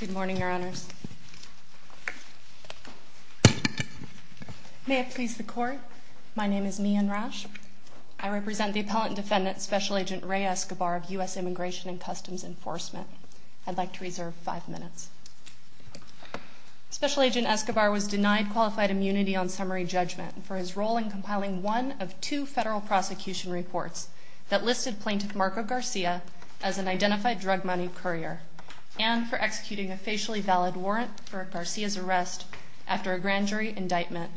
Good morning, Your Honors. May it please the Court, my name is Mi-Anne Rasch. I represent the Appellant Defendant Special Agent Ray Escobar of U.S. Immigration and Customs Enforcement. I'd like to reserve five minutes. Special Agent Escobar was denied qualified immunity on summary judgment for his role in compiling one of two federal prosecution reports that listed Plaintiff Marco Garcia as an identified drug money courier and for executing a facially valid warrant for Garcia's arrest after a grand jury indictment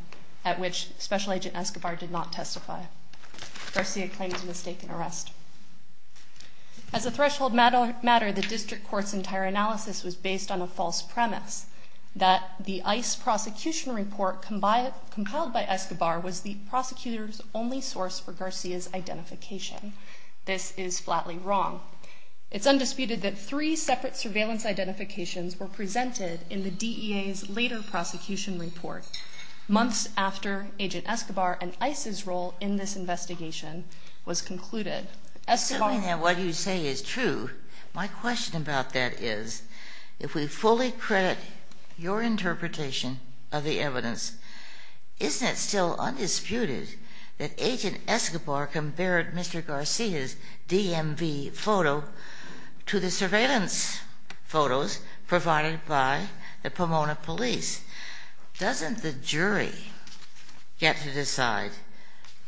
at which Special Agent Escobar did not testify. Garcia claims a mistaken arrest. As a threshold matter, the District Court's entire analysis was based on a false premise that the ICE prosecution report compiled by Escobar was the prosecutor's only source for Garcia's identification. This is flatly wrong. It's undisputed that three separate surveillance identifications were presented in the DEA's later prosecution report months after Agent Escobar and ICE's role in this investigation was concluded. Assuming that what you say is true, my question about that is, if we fully credit your interpretation of the evidence, isn't it still undisputed that Agent Escobar compared Mr. Garcia's DMV photo to the surveillance photos provided by the Pomona police? Doesn't the jury get to decide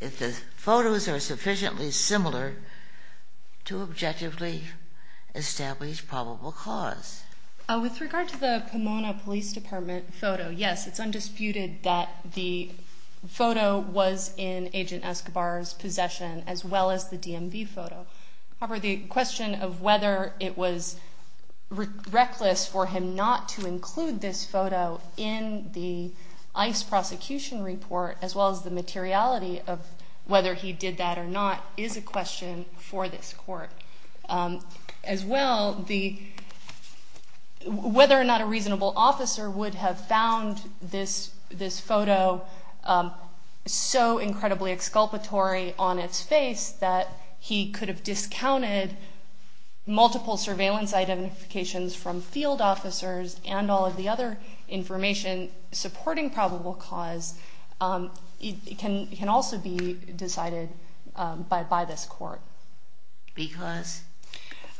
if the photos are sufficiently similar to objectively establish probable cause? With regard to the Pomona police department photo, yes, it's undisputed that the photo was in Agent Escobar's possession as well as the DMV photo. However, the question of whether it was reckless for him not to include this photo in the ICE prosecution report, as well as the materiality of whether he did that or not, is a question for this court. As well, whether or not a reasonable officer would have found this photo so incredibly exculpatory on its face that he could have discounted multiple surveillance identifications from field officers and all of the other information supporting probable cause can also be decided by this court. Because?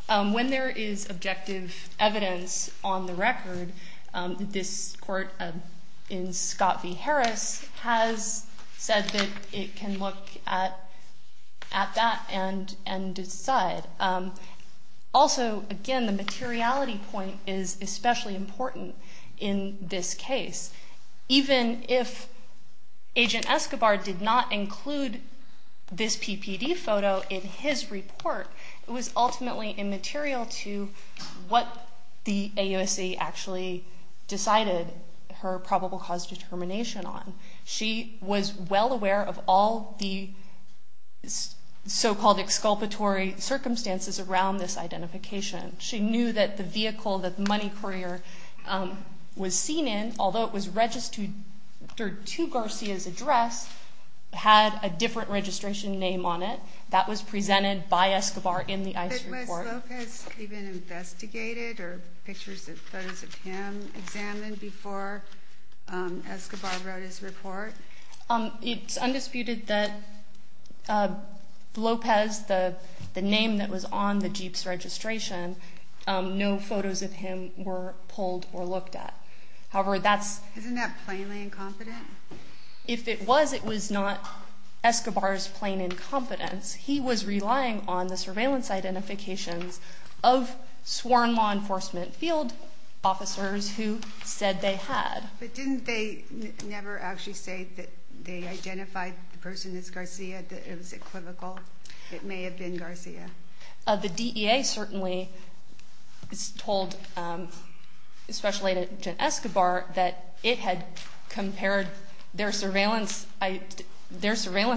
When there is objective evidence on the record, this court in Scott v. Harris has said that it can look at that and decide. Also, again, the materiality point is especially important in this case. Even if Agent Escobar did not include this PPD photo in his report, it was ultimately immaterial to what the AUSC actually decided her probable cause determination on. She was well aware of all the so-called exculpatory circumstances around this identification. She knew that the vehicle that the money courier was seen in, although it was registered to Garcia's address, had a different registration name on it. That was presented by Escobar in the ICE report. But was Lopez even investigated or pictures and photos of him examined before Escobar wrote his report? It's undisputed that Lopez, the name that was on the jeep's registration, no photos of him were pulled or looked at. Isn't that plainly incompetent? If it was, it was not Escobar's plain incompetence. He was relying on the surveillance identifications of sworn law enforcement field officers who said they had. But didn't they never actually say that they identified the person as Garcia, that it was equivocal? It may have been Garcia. The DEA certainly is told, especially Agent Escobar, that it had compared their surveillance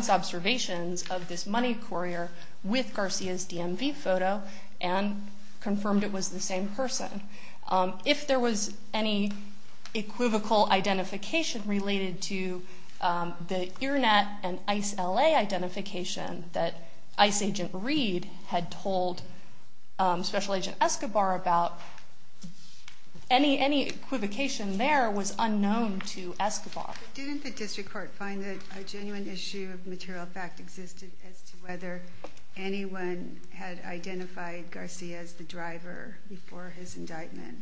observations of this money courier with Garcia's DMV photo and confirmed it was the same person. If there was any equivocal identification related to the IRNET and ICE LA identification that ICE Agent Reed had told Special Agent Escobar about, any equivocation there was unknown to Escobar. Didn't the district court find that a genuine issue of material fact existed as to whether anyone had identified Garcia as the driver before his indictment?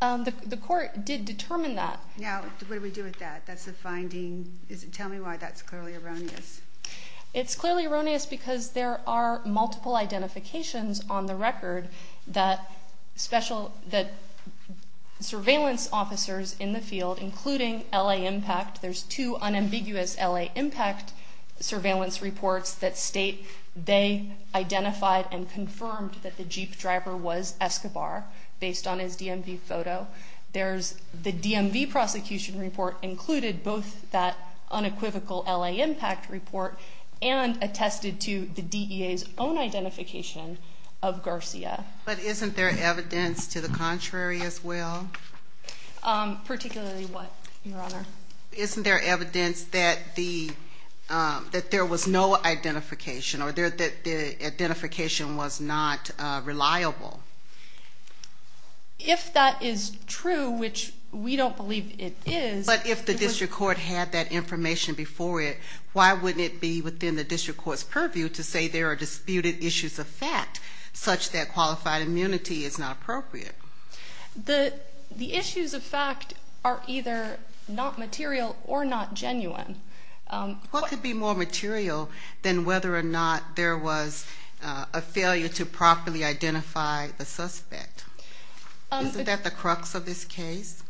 The court did determine that. Now, what do we do with that? That's a finding. Tell me why that's clearly erroneous. It's clearly erroneous because there are multiple identifications on the record that surveillance officers in the field, including LA Impact, there's two unambiguous LA Impact surveillance reports that state they identified and confirmed that the Jeep driver was Escobar based on his DMV photo. The DMV prosecution report included both that unequivocal LA Impact report and attested to the DEA's own identification of Garcia. But isn't there evidence to the contrary as well? Particularly what, Your Honor? Isn't there evidence that there was no identification or that the identification was not reliable? If that is true, which we don't believe it is. But if the district court had that information before it, why wouldn't it be within the district court's purview to say there are disputed issues of fact such that qualified immunity is not appropriate? The issues of fact are either not material or not genuine. What could be more material than whether or not there was a failure to properly identify the suspect? Isn't that the crux of this case?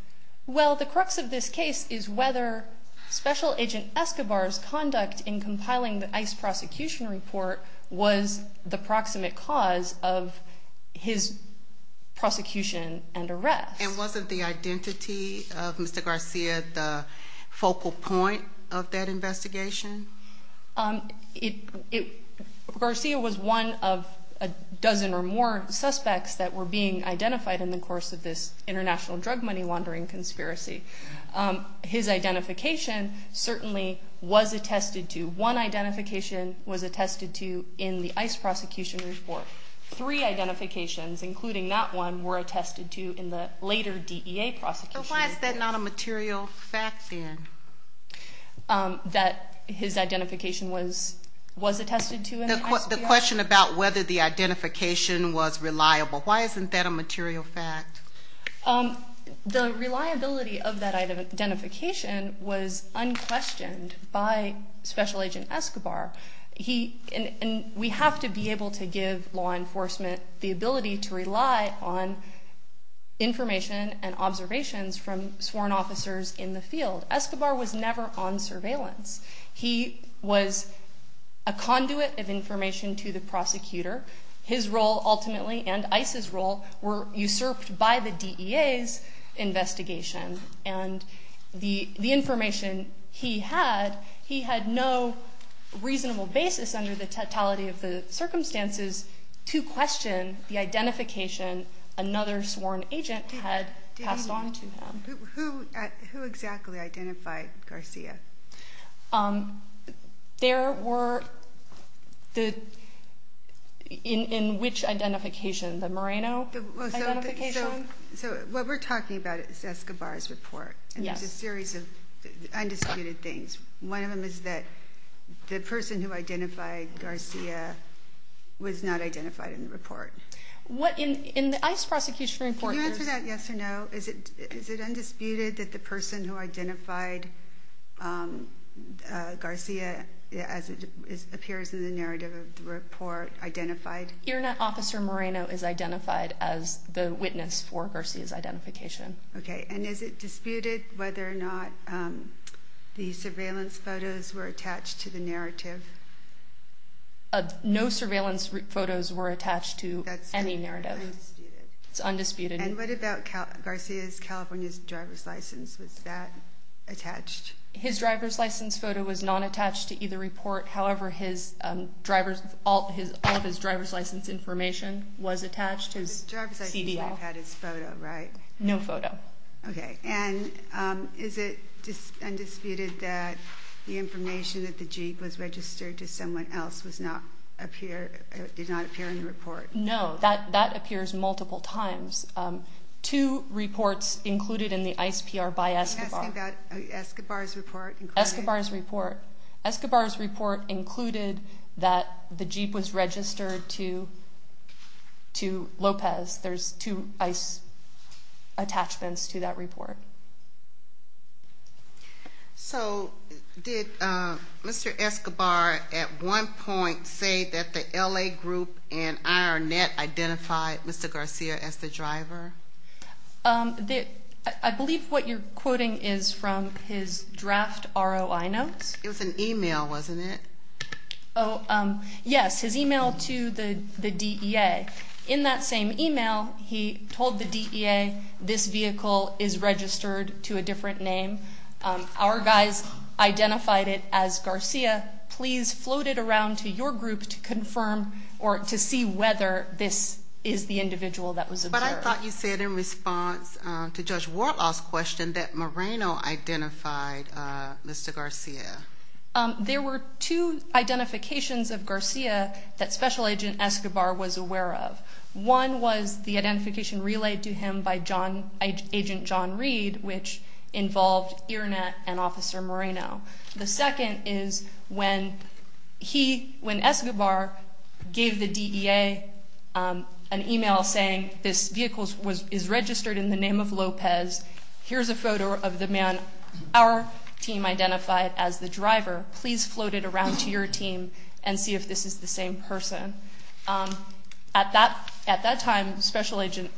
Well, the crux of this case is whether Special Agent Escobar's conduct in compiling the ICE prosecution report was the proximate cause of his prosecution and arrest. And wasn't the identity of Mr. Garcia the focal point of that investigation? Garcia was one of a dozen or more suspects that were being identified in the course of this international drug money laundering conspiracy. His identification certainly was attested to. One identification was attested to in the ICE prosecution report. Three identifications, including that one, were attested to in the later DEA prosecution. But why is that not a material fact then? That his identification was attested to in the ICE PR? The question about whether the identification was reliable, why isn't that a material fact? The reliability of that identification was unquestioned by Special Agent Escobar. And we have to be able to give law enforcement the ability to rely on information and observations from sworn officers in the field. Escobar was never on surveillance. He was a conduit of information to the prosecutor. His role ultimately, and ICE's role, were usurped by the DEA's investigation. And the information he had, he had no reasonable basis under the totality of the circumstances to question the identification another sworn agent had passed on to him. Who exactly identified Garcia? There were the, in which identification? The Moreno identification? So what we're talking about is Escobar's report. Yes. And there's a series of undisputed things. One of them is that the person who identified Garcia was not identified in the report. What in the ICE prosecution report? Can you answer that yes or no? Is it undisputed that the person who identified Garcia, as it appears in the narrative of the report, identified? Earnet Officer Moreno is identified as the witness for Garcia's identification. Okay. And is it disputed whether or not the surveillance photos were attached to the narrative? No surveillance photos were attached to any narrative. That's undisputed. It's undisputed. And what about Garcia's California driver's license? Was that attached? His driver's license photo was not attached to either report. However, all of his driver's license information was attached, his CDL. The driver's license photo had his photo, right? No photo. Okay. And is it undisputed that the information that the jeep was registered to someone else did not appear in the report? No. That appears multiple times. Two reports included in the ICE PR by Escobar. Are you asking about Escobar's report? Escobar's report. Escobar's report included that the jeep was registered to Lopez. There's two ICE attachments to that report. So did Mr. Escobar at one point say that the L.A. group and IronNet identified Mr. Garcia as the driver? I believe what you're quoting is from his draft ROI notes. It was an e-mail, wasn't it? Yes, his e-mail to the DEA. In that same e-mail, he told the DEA, this vehicle is registered to a different name. Our guys identified it as Garcia. Please float it around to your group to confirm or to see whether this is the individual that was observed. But I thought you said in response to Judge Warlaw's question that Moreno identified Mr. Garcia. There were two identifications of Garcia that Special Agent Escobar was aware of. One was the identification relayed to him by Agent John Reed, which involved IronNet and Officer Moreno. The second is when Escobar gave the DEA an e-mail saying, this vehicle is registered in the name of Lopez. Here's a photo of the man our team identified as the driver. Please float it around to your team and see if this is the same person. At that time, Special Agent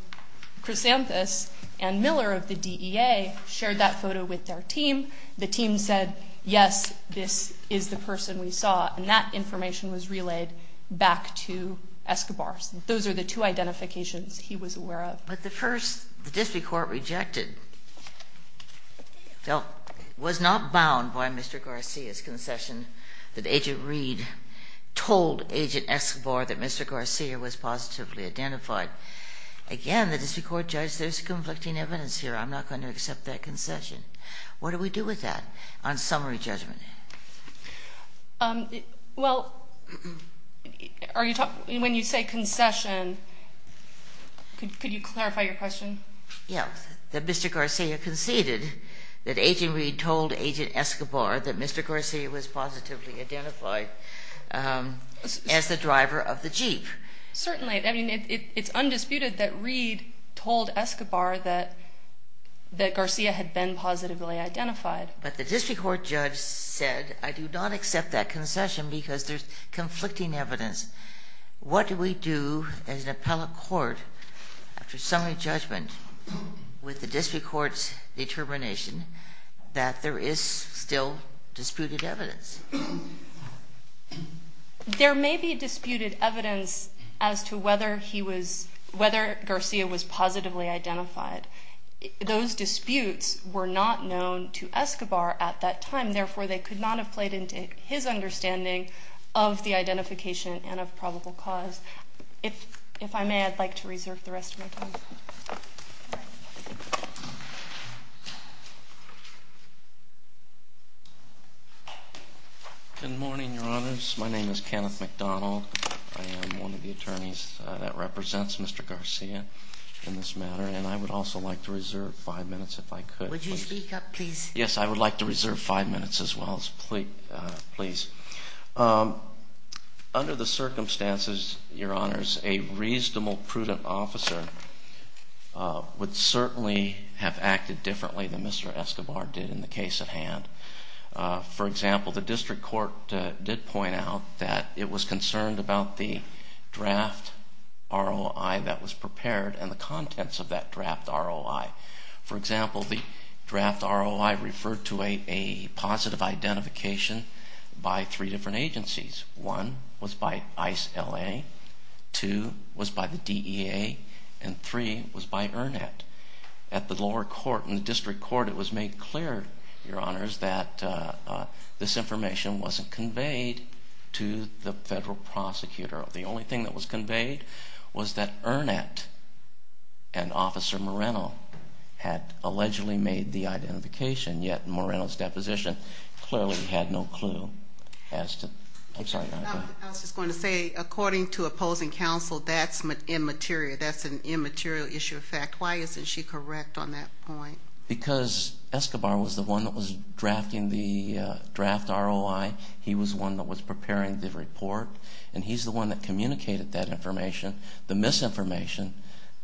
Chrysanthos and Miller of the DEA shared that photo with their team. The team said, yes, this is the person we saw, and that information was relayed back to Escobar. Those are the two identifications he was aware of. But the first the district court rejected was not bound by Mr. Garcia's concession that Agent Reed told Agent Escobar that Mr. Garcia was positively identified. Again, the district court judged there's conflicting evidence here. I'm not going to accept that concession. What do we do with that on summary judgment? Well, when you say concession, could you clarify your question? Yes, that Mr. Garcia conceded that Agent Reed told Agent Escobar that Mr. Garcia was positively identified as the driver of the Jeep. Certainly. I mean, it's undisputed that Reed told Escobar that Garcia had been positively identified. But the district court judge said, I do not accept that concession because there's conflicting evidence. What do we do as an appellate court after summary judgment with the district court's determination that there is still disputed evidence? There may be disputed evidence as to whether Garcia was positively identified. Those disputes were not known to Escobar at that time. Therefore, they could not have played into his understanding of the identification and of probable cause. If I may, I'd like to reserve the rest of my time. Good morning, Your Honors. My name is Kenneth McDonald. I am one of the attorneys that represents Mr. Garcia in this matter, and I would also like to reserve five minutes if I could. Would you speak up, please? Yes, I would like to reserve five minutes as well, please. Under the circumstances, Your Honors, a reasonable, prudent officer would certainly have acted differently than Mr. Escobar did in the case at hand. For example, the district court did point out that it was concerned about the draft ROI that was prepared and the contents of that draft ROI. For example, the draft ROI referred to a positive identification by three different agencies. One was by ICE LA, two was by the DEA, and three was by ERNET. At the lower court, in the district court, it was made clear, Your Honors, that this information wasn't conveyed to the federal prosecutor. The only thing that was conveyed was that ERNET and Officer Moreno had allegedly made the identification, yet Moreno's deposition clearly had no clue. I'm sorry, Your Honor. I was just going to say, according to opposing counsel, that's immaterial. That's an immaterial issue of fact. Why isn't she correct on that point? Because Escobar was the one that was drafting the draft ROI. He was the one that was preparing the report, and he's the one that communicated that information, the misinformation,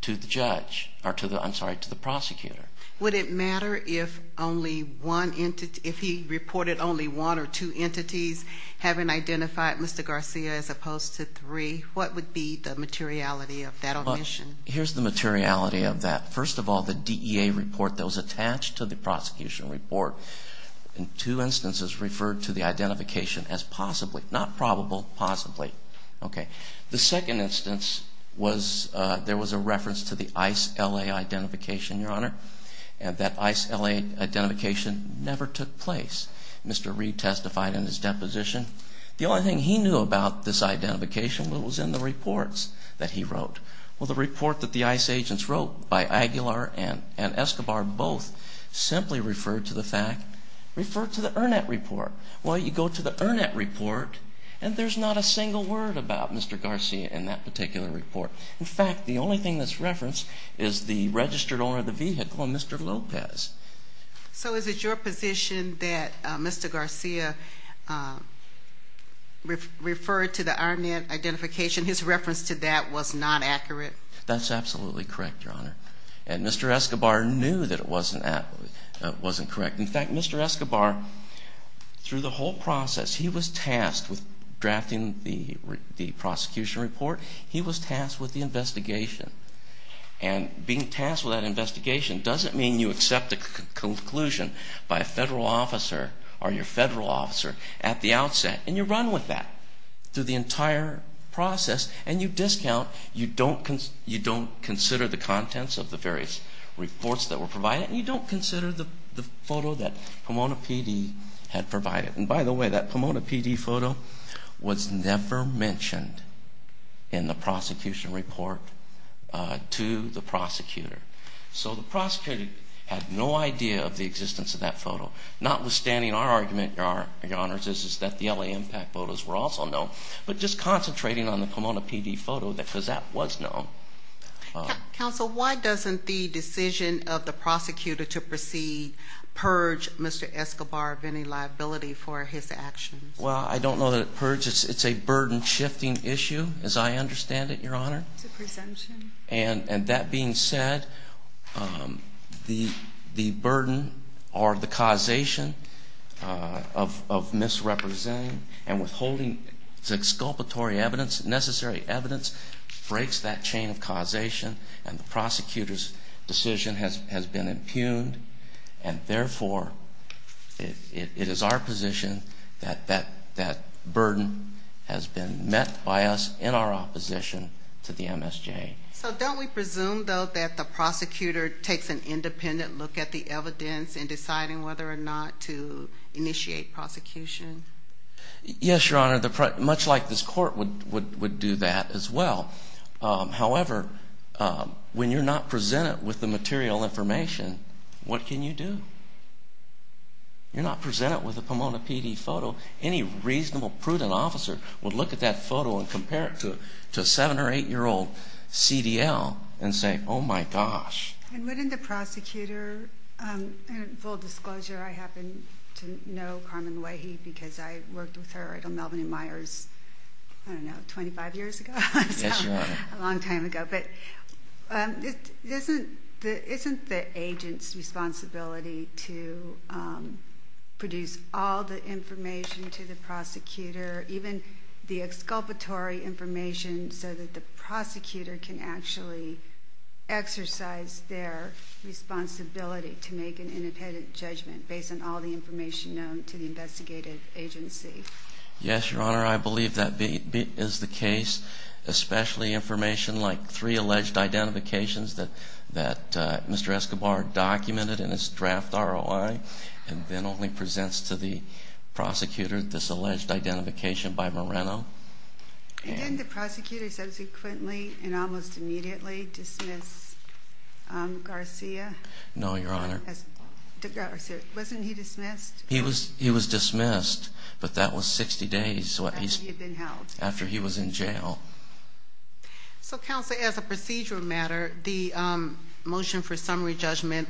to the prosecutor. Would it matter if he reported only one or two entities having identified Mr. Garcia as opposed to three? What would be the materiality of that omission? Here's the materiality of that. First of all, the DEA report that was attached to the prosecution report in two instances referred to the identification as possibly, not probable, possibly. The second instance was there was a reference to the ICE-LA identification, Your Honor, and that ICE-LA identification never took place. Mr. Reed testified in his deposition. The only thing he knew about this identification was in the reports that he wrote. Well, the report that the ICE agents wrote by Aguilar and Escobar both simply referred to the fact, referred to the ERNET report. Well, you go to the ERNET report, and there's not a single word about Mr. Garcia in that particular report. In fact, the only thing that's referenced is the registered owner of the vehicle, Mr. Lopez. So is it your position that Mr. Garcia referred to the ERNET identification? His reference to that was not accurate? That's absolutely correct, Your Honor. And Mr. Escobar knew that it wasn't correct. In fact, Mr. Escobar, through the whole process, he was tasked with drafting the prosecution report. He was tasked with the investigation. And being tasked with that investigation doesn't mean you accept a conclusion by a federal officer or your federal officer at the outset, and you run with that through the entire process, and you discount, you don't consider the contents of the various reports that were provided, and you don't consider the photo that Pomona PD had provided. And by the way, that Pomona PD photo was never mentioned in the prosecution report to the prosecutor. So the prosecutor had no idea of the existence of that photo, notwithstanding our argument, Your Honors, is that the L.A. Impact photos were also known, but just concentrating on the Pomona PD photo because that was known. Counsel, why doesn't the decision of the prosecutor to purge Mr. Escobar of any liability for his actions? Well, I don't know that it purges. It's a burden-shifting issue, as I understand it, Your Honor. It's a presumption. And that being said, the burden or the causation of misrepresenting and withholding the exculpatory evidence, necessary evidence, breaks that chain of causation, and the prosecutor's decision has been impugned. And therefore, it is our position that that burden has been met by us in our opposition to the MSJ. So don't we presume, though, that the prosecutor takes an independent look at the evidence in deciding whether or not to initiate prosecution? Yes, Your Honor, much like this court would do that as well. However, when you're not presented with the material information, what can you do? You're not presented with a Pomona PD photo. Any reasonable, prudent officer would look at that photo and compare it to a 7- or 8-year-old CDL and say, oh, my gosh. And wouldn't the prosecutor, and full disclosure, I happen to know Carmen Wehi because I worked with her at Melvin and Meyers, I don't know, 25 years ago? Yes, Your Honor. A long time ago. But isn't the agent's responsibility to produce all the information to the prosecutor, even the exculpatory information, so that the prosecutor can actually exercise their responsibility to make an independent judgment based on all the information known to the investigative agency? Yes, Your Honor, I believe that is the case, especially information like three alleged identifications that Mr. Escobar documented in his draft ROI and then only presents to the prosecutor this alleged identification by Moreno. And then the prosecutor subsequently and almost immediately dismissed Garcia? No, Your Honor. Wasn't he dismissed? He was dismissed, but that was 60 days after he was in jail. So, Counsel, as a procedural matter, the motion for summary judgment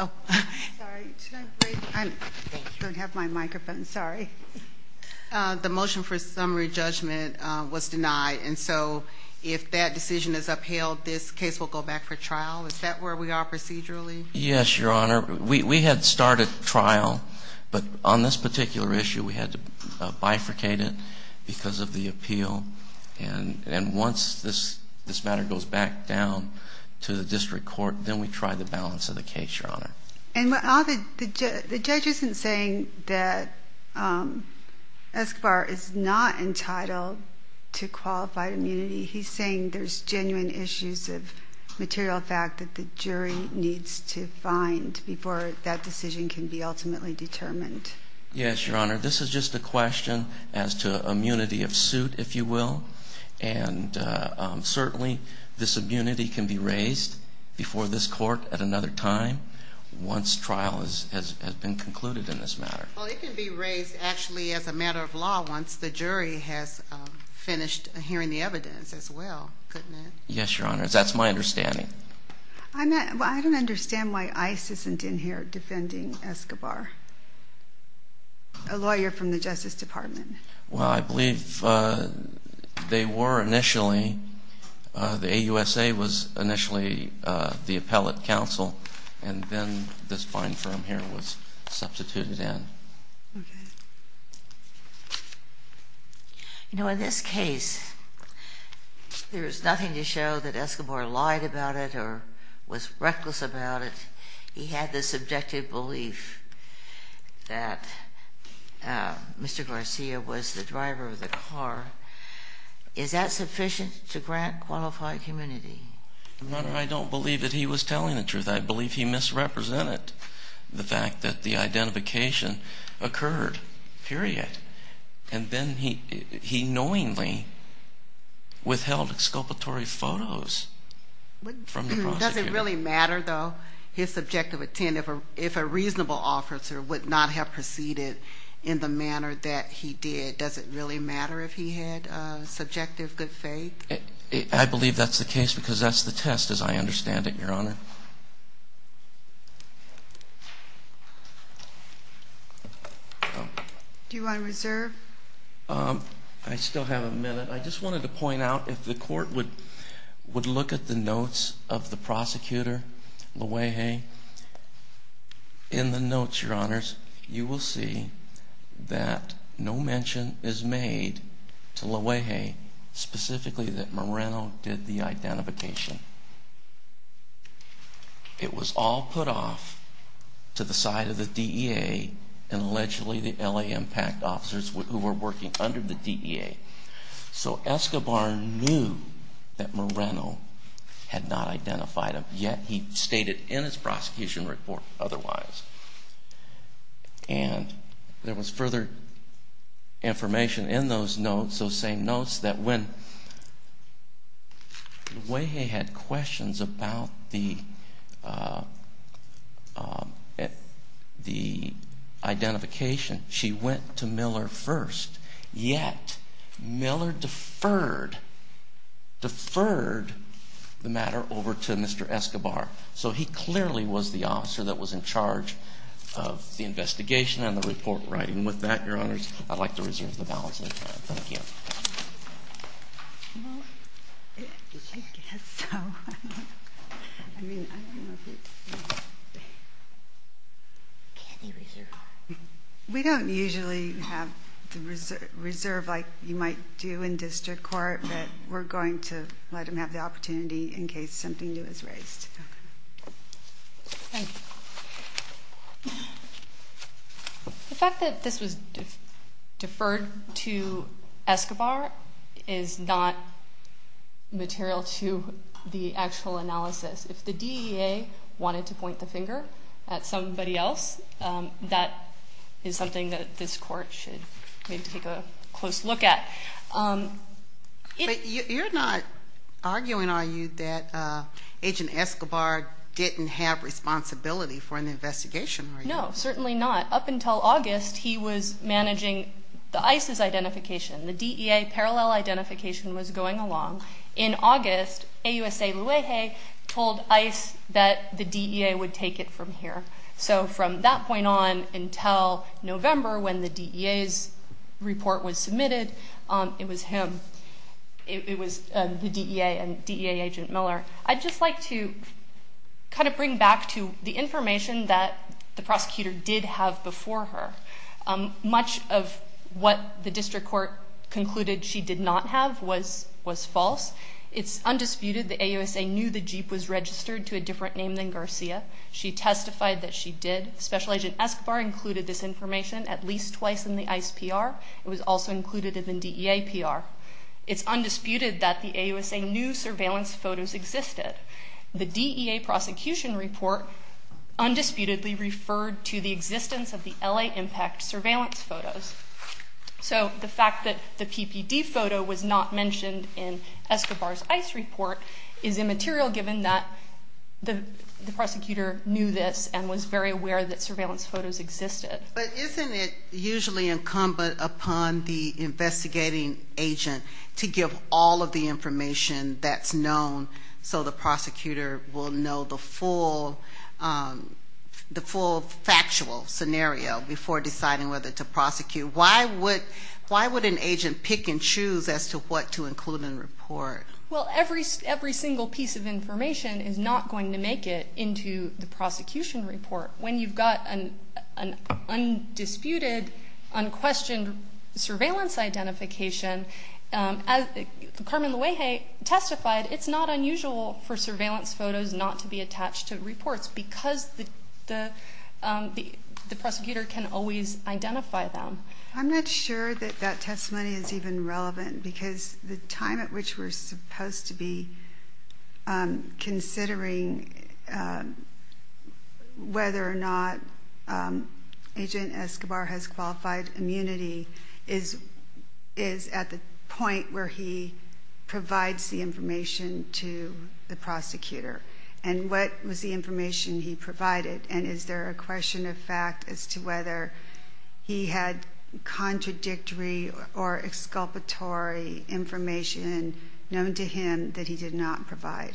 Oh, sorry. I don't have my microphone. Sorry. The motion for summary judgment was denied. And so if that decision is upheld, this case will go back for trial. Is that where we are procedurally? Yes, Your Honor. We had started trial, but on this particular issue we had to bifurcate it because of the appeal. And once this matter goes back down to the district court, then we try the balance of the case, Your Honor. And the judge isn't saying that Escobar is not entitled to qualified immunity. He's saying there's genuine issues of material fact that the jury needs to find before that decision can be ultimately determined. Yes, Your Honor. This is just a question as to immunity of suit, if you will. And certainly this immunity can be raised before this court at another time once trial has been concluded in this matter. Well, it can be raised actually as a matter of law once the jury has finished hearing the evidence as well, couldn't it? Yes, Your Honor. That's my understanding. I don't understand why ICE isn't in here defending Escobar, a lawyer from the Justice Department. Well, I believe they were initially. The AUSA was initially the appellate counsel, and then this fine firm here was substituted in. Okay. You know, in this case, there's nothing to show that Escobar lied about it or was reckless about it. He had the subjective belief that Mr. Garcia was the driver of the car. Is that sufficient to grant qualified immunity? Your Honor, I don't believe that he was telling the truth. I believe he misrepresented the fact that the identification occurred, period. And then he knowingly withheld exculpatory photos from the prosecutor. Does it really matter, though, his subjective intent if a reasonable officer would not have proceeded in the manner that he did? Does it really matter if he had subjective good faith? I believe that's the case because that's the test, as I understand it, Your Honor. Do you want to reserve? I still have a minute. I just wanted to point out, if the court would look at the notes of the prosecutor, Luege, in the notes, Your Honors, you will see that no mention is made to Luege, specifically that Moreno did the identification. It was all put off to the side of the DEA and allegedly the L.A. Impact officers who were working under the DEA. So Escobar knew that Moreno had not identified him, yet he stated in his prosecution report otherwise. And there was further information in those notes, those same notes, that when Luege had questions about the identification, she went to Miller first, yet Miller deferred the matter over to Mr. Escobar. So he clearly was the officer that was in charge of the investigation and the report writing. With that, Your Honors, I'd like to reserve the balance of my time. Thank you. We don't usually have the reserve like you might do in district court, but we're going to let him have the opportunity in case something new is raised. The fact that this was deferred to Escobar is not material to the actual analysis. If the DEA wanted to point the finger at somebody else, that is something that this court should maybe take a close look at. But you're not arguing, are you, that Agent Escobar didn't have responsibility for an investigation, are you? No, certainly not. Up until August, he was managing ICE's identification. The DEA parallel identification was going along. In August, AUSA Luege told ICE that the DEA would take it from here. So from that point on until November when the DEA's report was submitted, it was him. It was the DEA and DEA Agent Miller. I'd just like to kind of bring back to the information that the prosecutor did have before her. Much of what the district court concluded she did not have was false. It's undisputed that AUSA knew the jeep was registered to a different name than Garcia. She testified that she did. Special Agent Escobar included this information at least twice in the ICE PR. It was also included in the DEA PR. It's undisputed that the AUSA knew surveillance photos existed. The DEA prosecution report undisputedly referred to the existence of the LA Impact surveillance photos. So the fact that the PPD photo was not mentioned in Escobar's ICE report is immaterial given that the prosecutor knew this and was very aware that surveillance photos existed. But isn't it usually incumbent upon the investigating agent to give all of the information that's known so the prosecutor will know the full factual scenario before deciding whether to prosecute? Why would an agent pick and choose as to what to include in a report? Well, every single piece of information is not going to make it into the prosecution report. When you've got an undisputed, unquestioned surveillance identification, as Carmen Luege testified, it's not unusual for surveillance photos not to be attached to reports because the prosecutor can always identify them. I'm not sure that that testimony is even relevant because the time at which we're supposed to be considering whether or not Agent Escobar has qualified immunity is at the point where he provides the information to the prosecutor. And what was the information he provided? And is there a question of fact as to whether he had contradictory or exculpatory information known to him that he did not provide?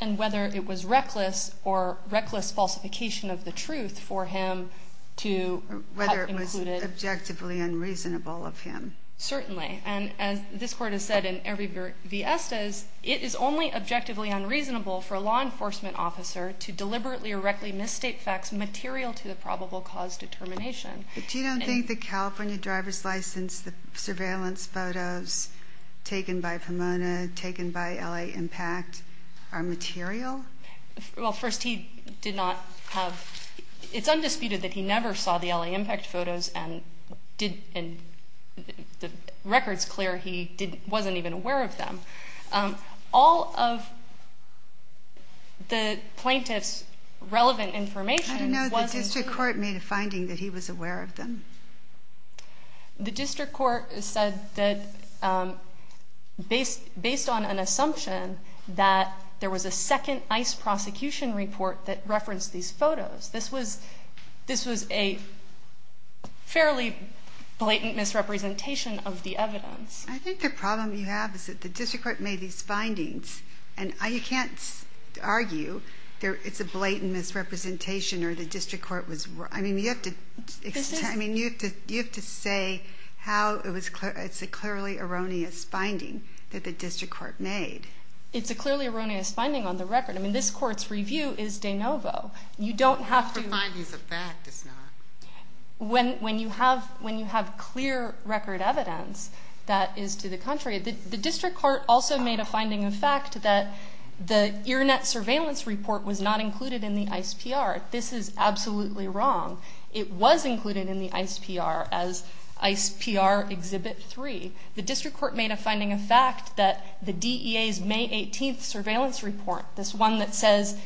And whether it was reckless or reckless falsification of the truth for him to have included? Whether it was objectively unreasonable of him. Certainly. And as this Court has said in every v. Estes, it is only objectively unreasonable for a law enforcement officer to deliberately or recklessly misstate facts material to the probable cause determination. But you don't think the California driver's license, the surveillance photos taken by Pomona, taken by L.A. Impact, are material? Well, first, he did not have – it's undisputed that he never saw the L.A. Impact photos and the record's clear he wasn't even aware of them. All of the plaintiff's relevant information wasn't – The district court made a finding that he was aware of them? The district court said that based on an assumption that there was a second ICE prosecution report that referenced these photos, this was a fairly blatant misrepresentation of the evidence. I think the problem you have is that the district court made these findings, and you can't argue it's a blatant misrepresentation or the district court was – I mean, you have to say how it's a clearly erroneous finding that the district court made. It's a clearly erroneous finding on the record. I mean, this Court's review is de novo. You don't have to – The finding's a fact, it's not. When you have clear record evidence that is to the contrary – The district court also made a finding of fact that the IRNET surveillance report was not included in the ICE PR. This is absolutely wrong. It was included in the ICE PR as ICE PR Exhibit 3. The district court made a finding of fact that the DEA's May 18th surveillance report, this one that says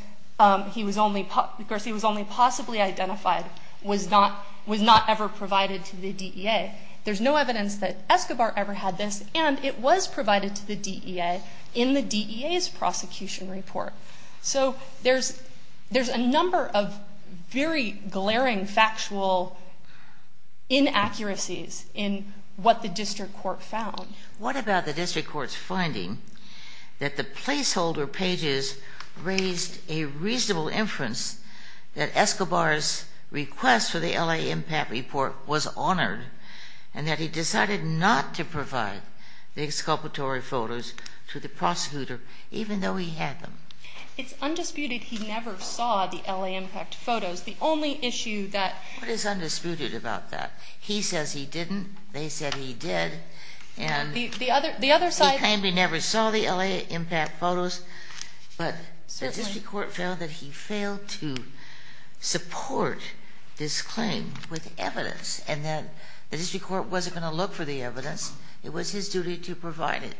he was only possibly identified, was not ever provided to the DEA. There's no evidence that Escobar ever had this, and it was provided to the DEA in the DEA's prosecution report. So there's a number of very glaring factual inaccuracies in what the district court found. What about the district court's finding that the placeholder pages raised a reasonable inference that Escobar's request for the L.A. impact report was honored and that he decided not to provide the exculpatory photos to the prosecutor even though he had them? It's undisputed he never saw the L.A. impact photos. The only issue that – What is undisputed about that? He says he didn't. They said he did. And – The other side – He claimed he never saw the L.A. impact photos. But the district court found that he failed to support this claim with evidence and that the district court wasn't going to look for the evidence. It was his duty to provide it.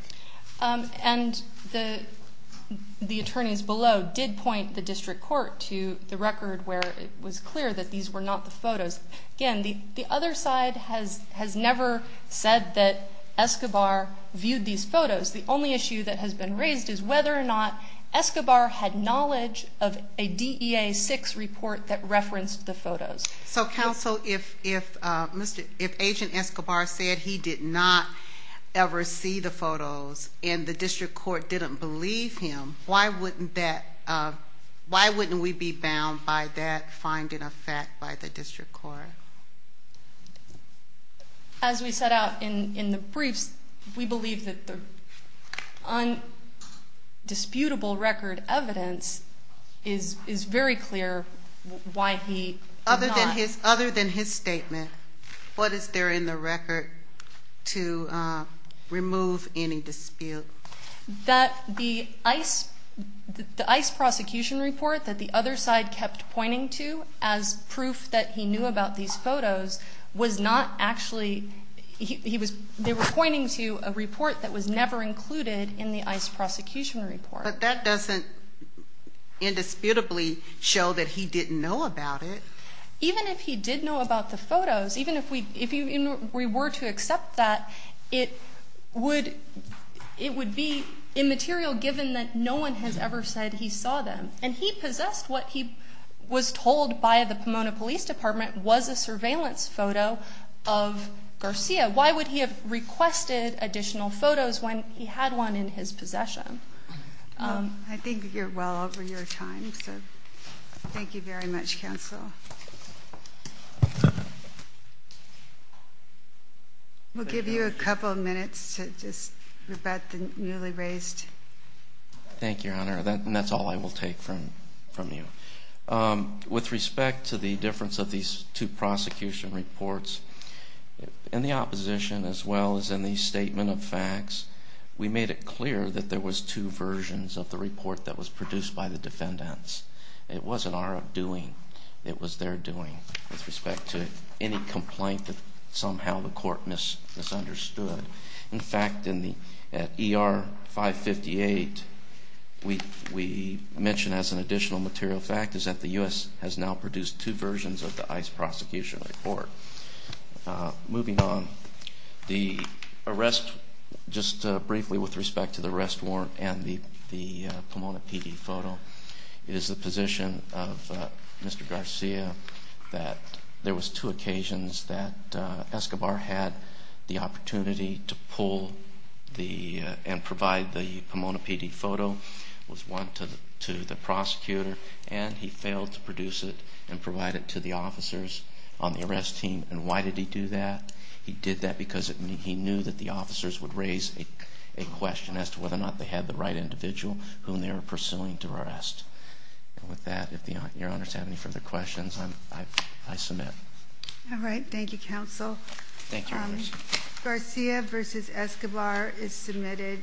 And the attorneys below did point the district court to the record where it was clear that these were not the photos. Again, the other side has never said that Escobar viewed these photos. The only issue that has been raised is whether or not Escobar had knowledge of a DEA-6 report that referenced the photos. So, counsel, if Agent Escobar said he did not ever see the photos and the district court didn't believe him, why wouldn't that – why wouldn't we be bound by that finding of fact by the district court? As we set out in the briefs, we believe that the undisputable record evidence is very clear why he – Other than his statement, what is there in the record to remove any dispute? That the ICE – the ICE prosecution report that the other side kept pointing to as proof that he knew about these photos was not actually – he was – they were pointing to a report that was never included in the ICE prosecution report. But that doesn't indisputably show that he didn't know about it. Even if he did know about the photos, even if we were to accept that, it would be immaterial given that no one has ever said he saw them. And he possessed what he was told by the Pomona Police Department was a surveillance photo of Garcia. Why would he have requested additional photos when he had one in his possession? I think you're well over your time, so thank you very much, Counsel. We'll give you a couple of minutes to just rebut the newly raised – Thank you, Your Honor, and that's all I will take from you. With respect to the difference of these two prosecution reports, in the opposition as well as in the statement of facts, we made it clear that there was two versions of the report that was produced by the defendants. It wasn't our doing. It was their doing with respect to any complaint that somehow the court misunderstood. In fact, in the – at ER 558, we mention as an additional material fact is that the U.S. has now produced two versions of the ICE prosecution report. Moving on, the arrest – just briefly with respect to the arrest warrant and the Pomona PD photo, it is the position of Mr. Garcia that there was two occasions that Escobar had the opportunity to pull the – and provide the Pomona PD photo. It was one to the prosecutor, and he failed to produce it and provide it to the officers on the arrest team. And why did he do that? He did that because he knew that the officers would raise a question as to whether or not they had the right individual whom they were pursuing to arrest. And with that, if Your Honor has any further questions, I submit. All right. Thank you, Counsel. Thank you, Your Honor. Garcia v. Escobar is submitted.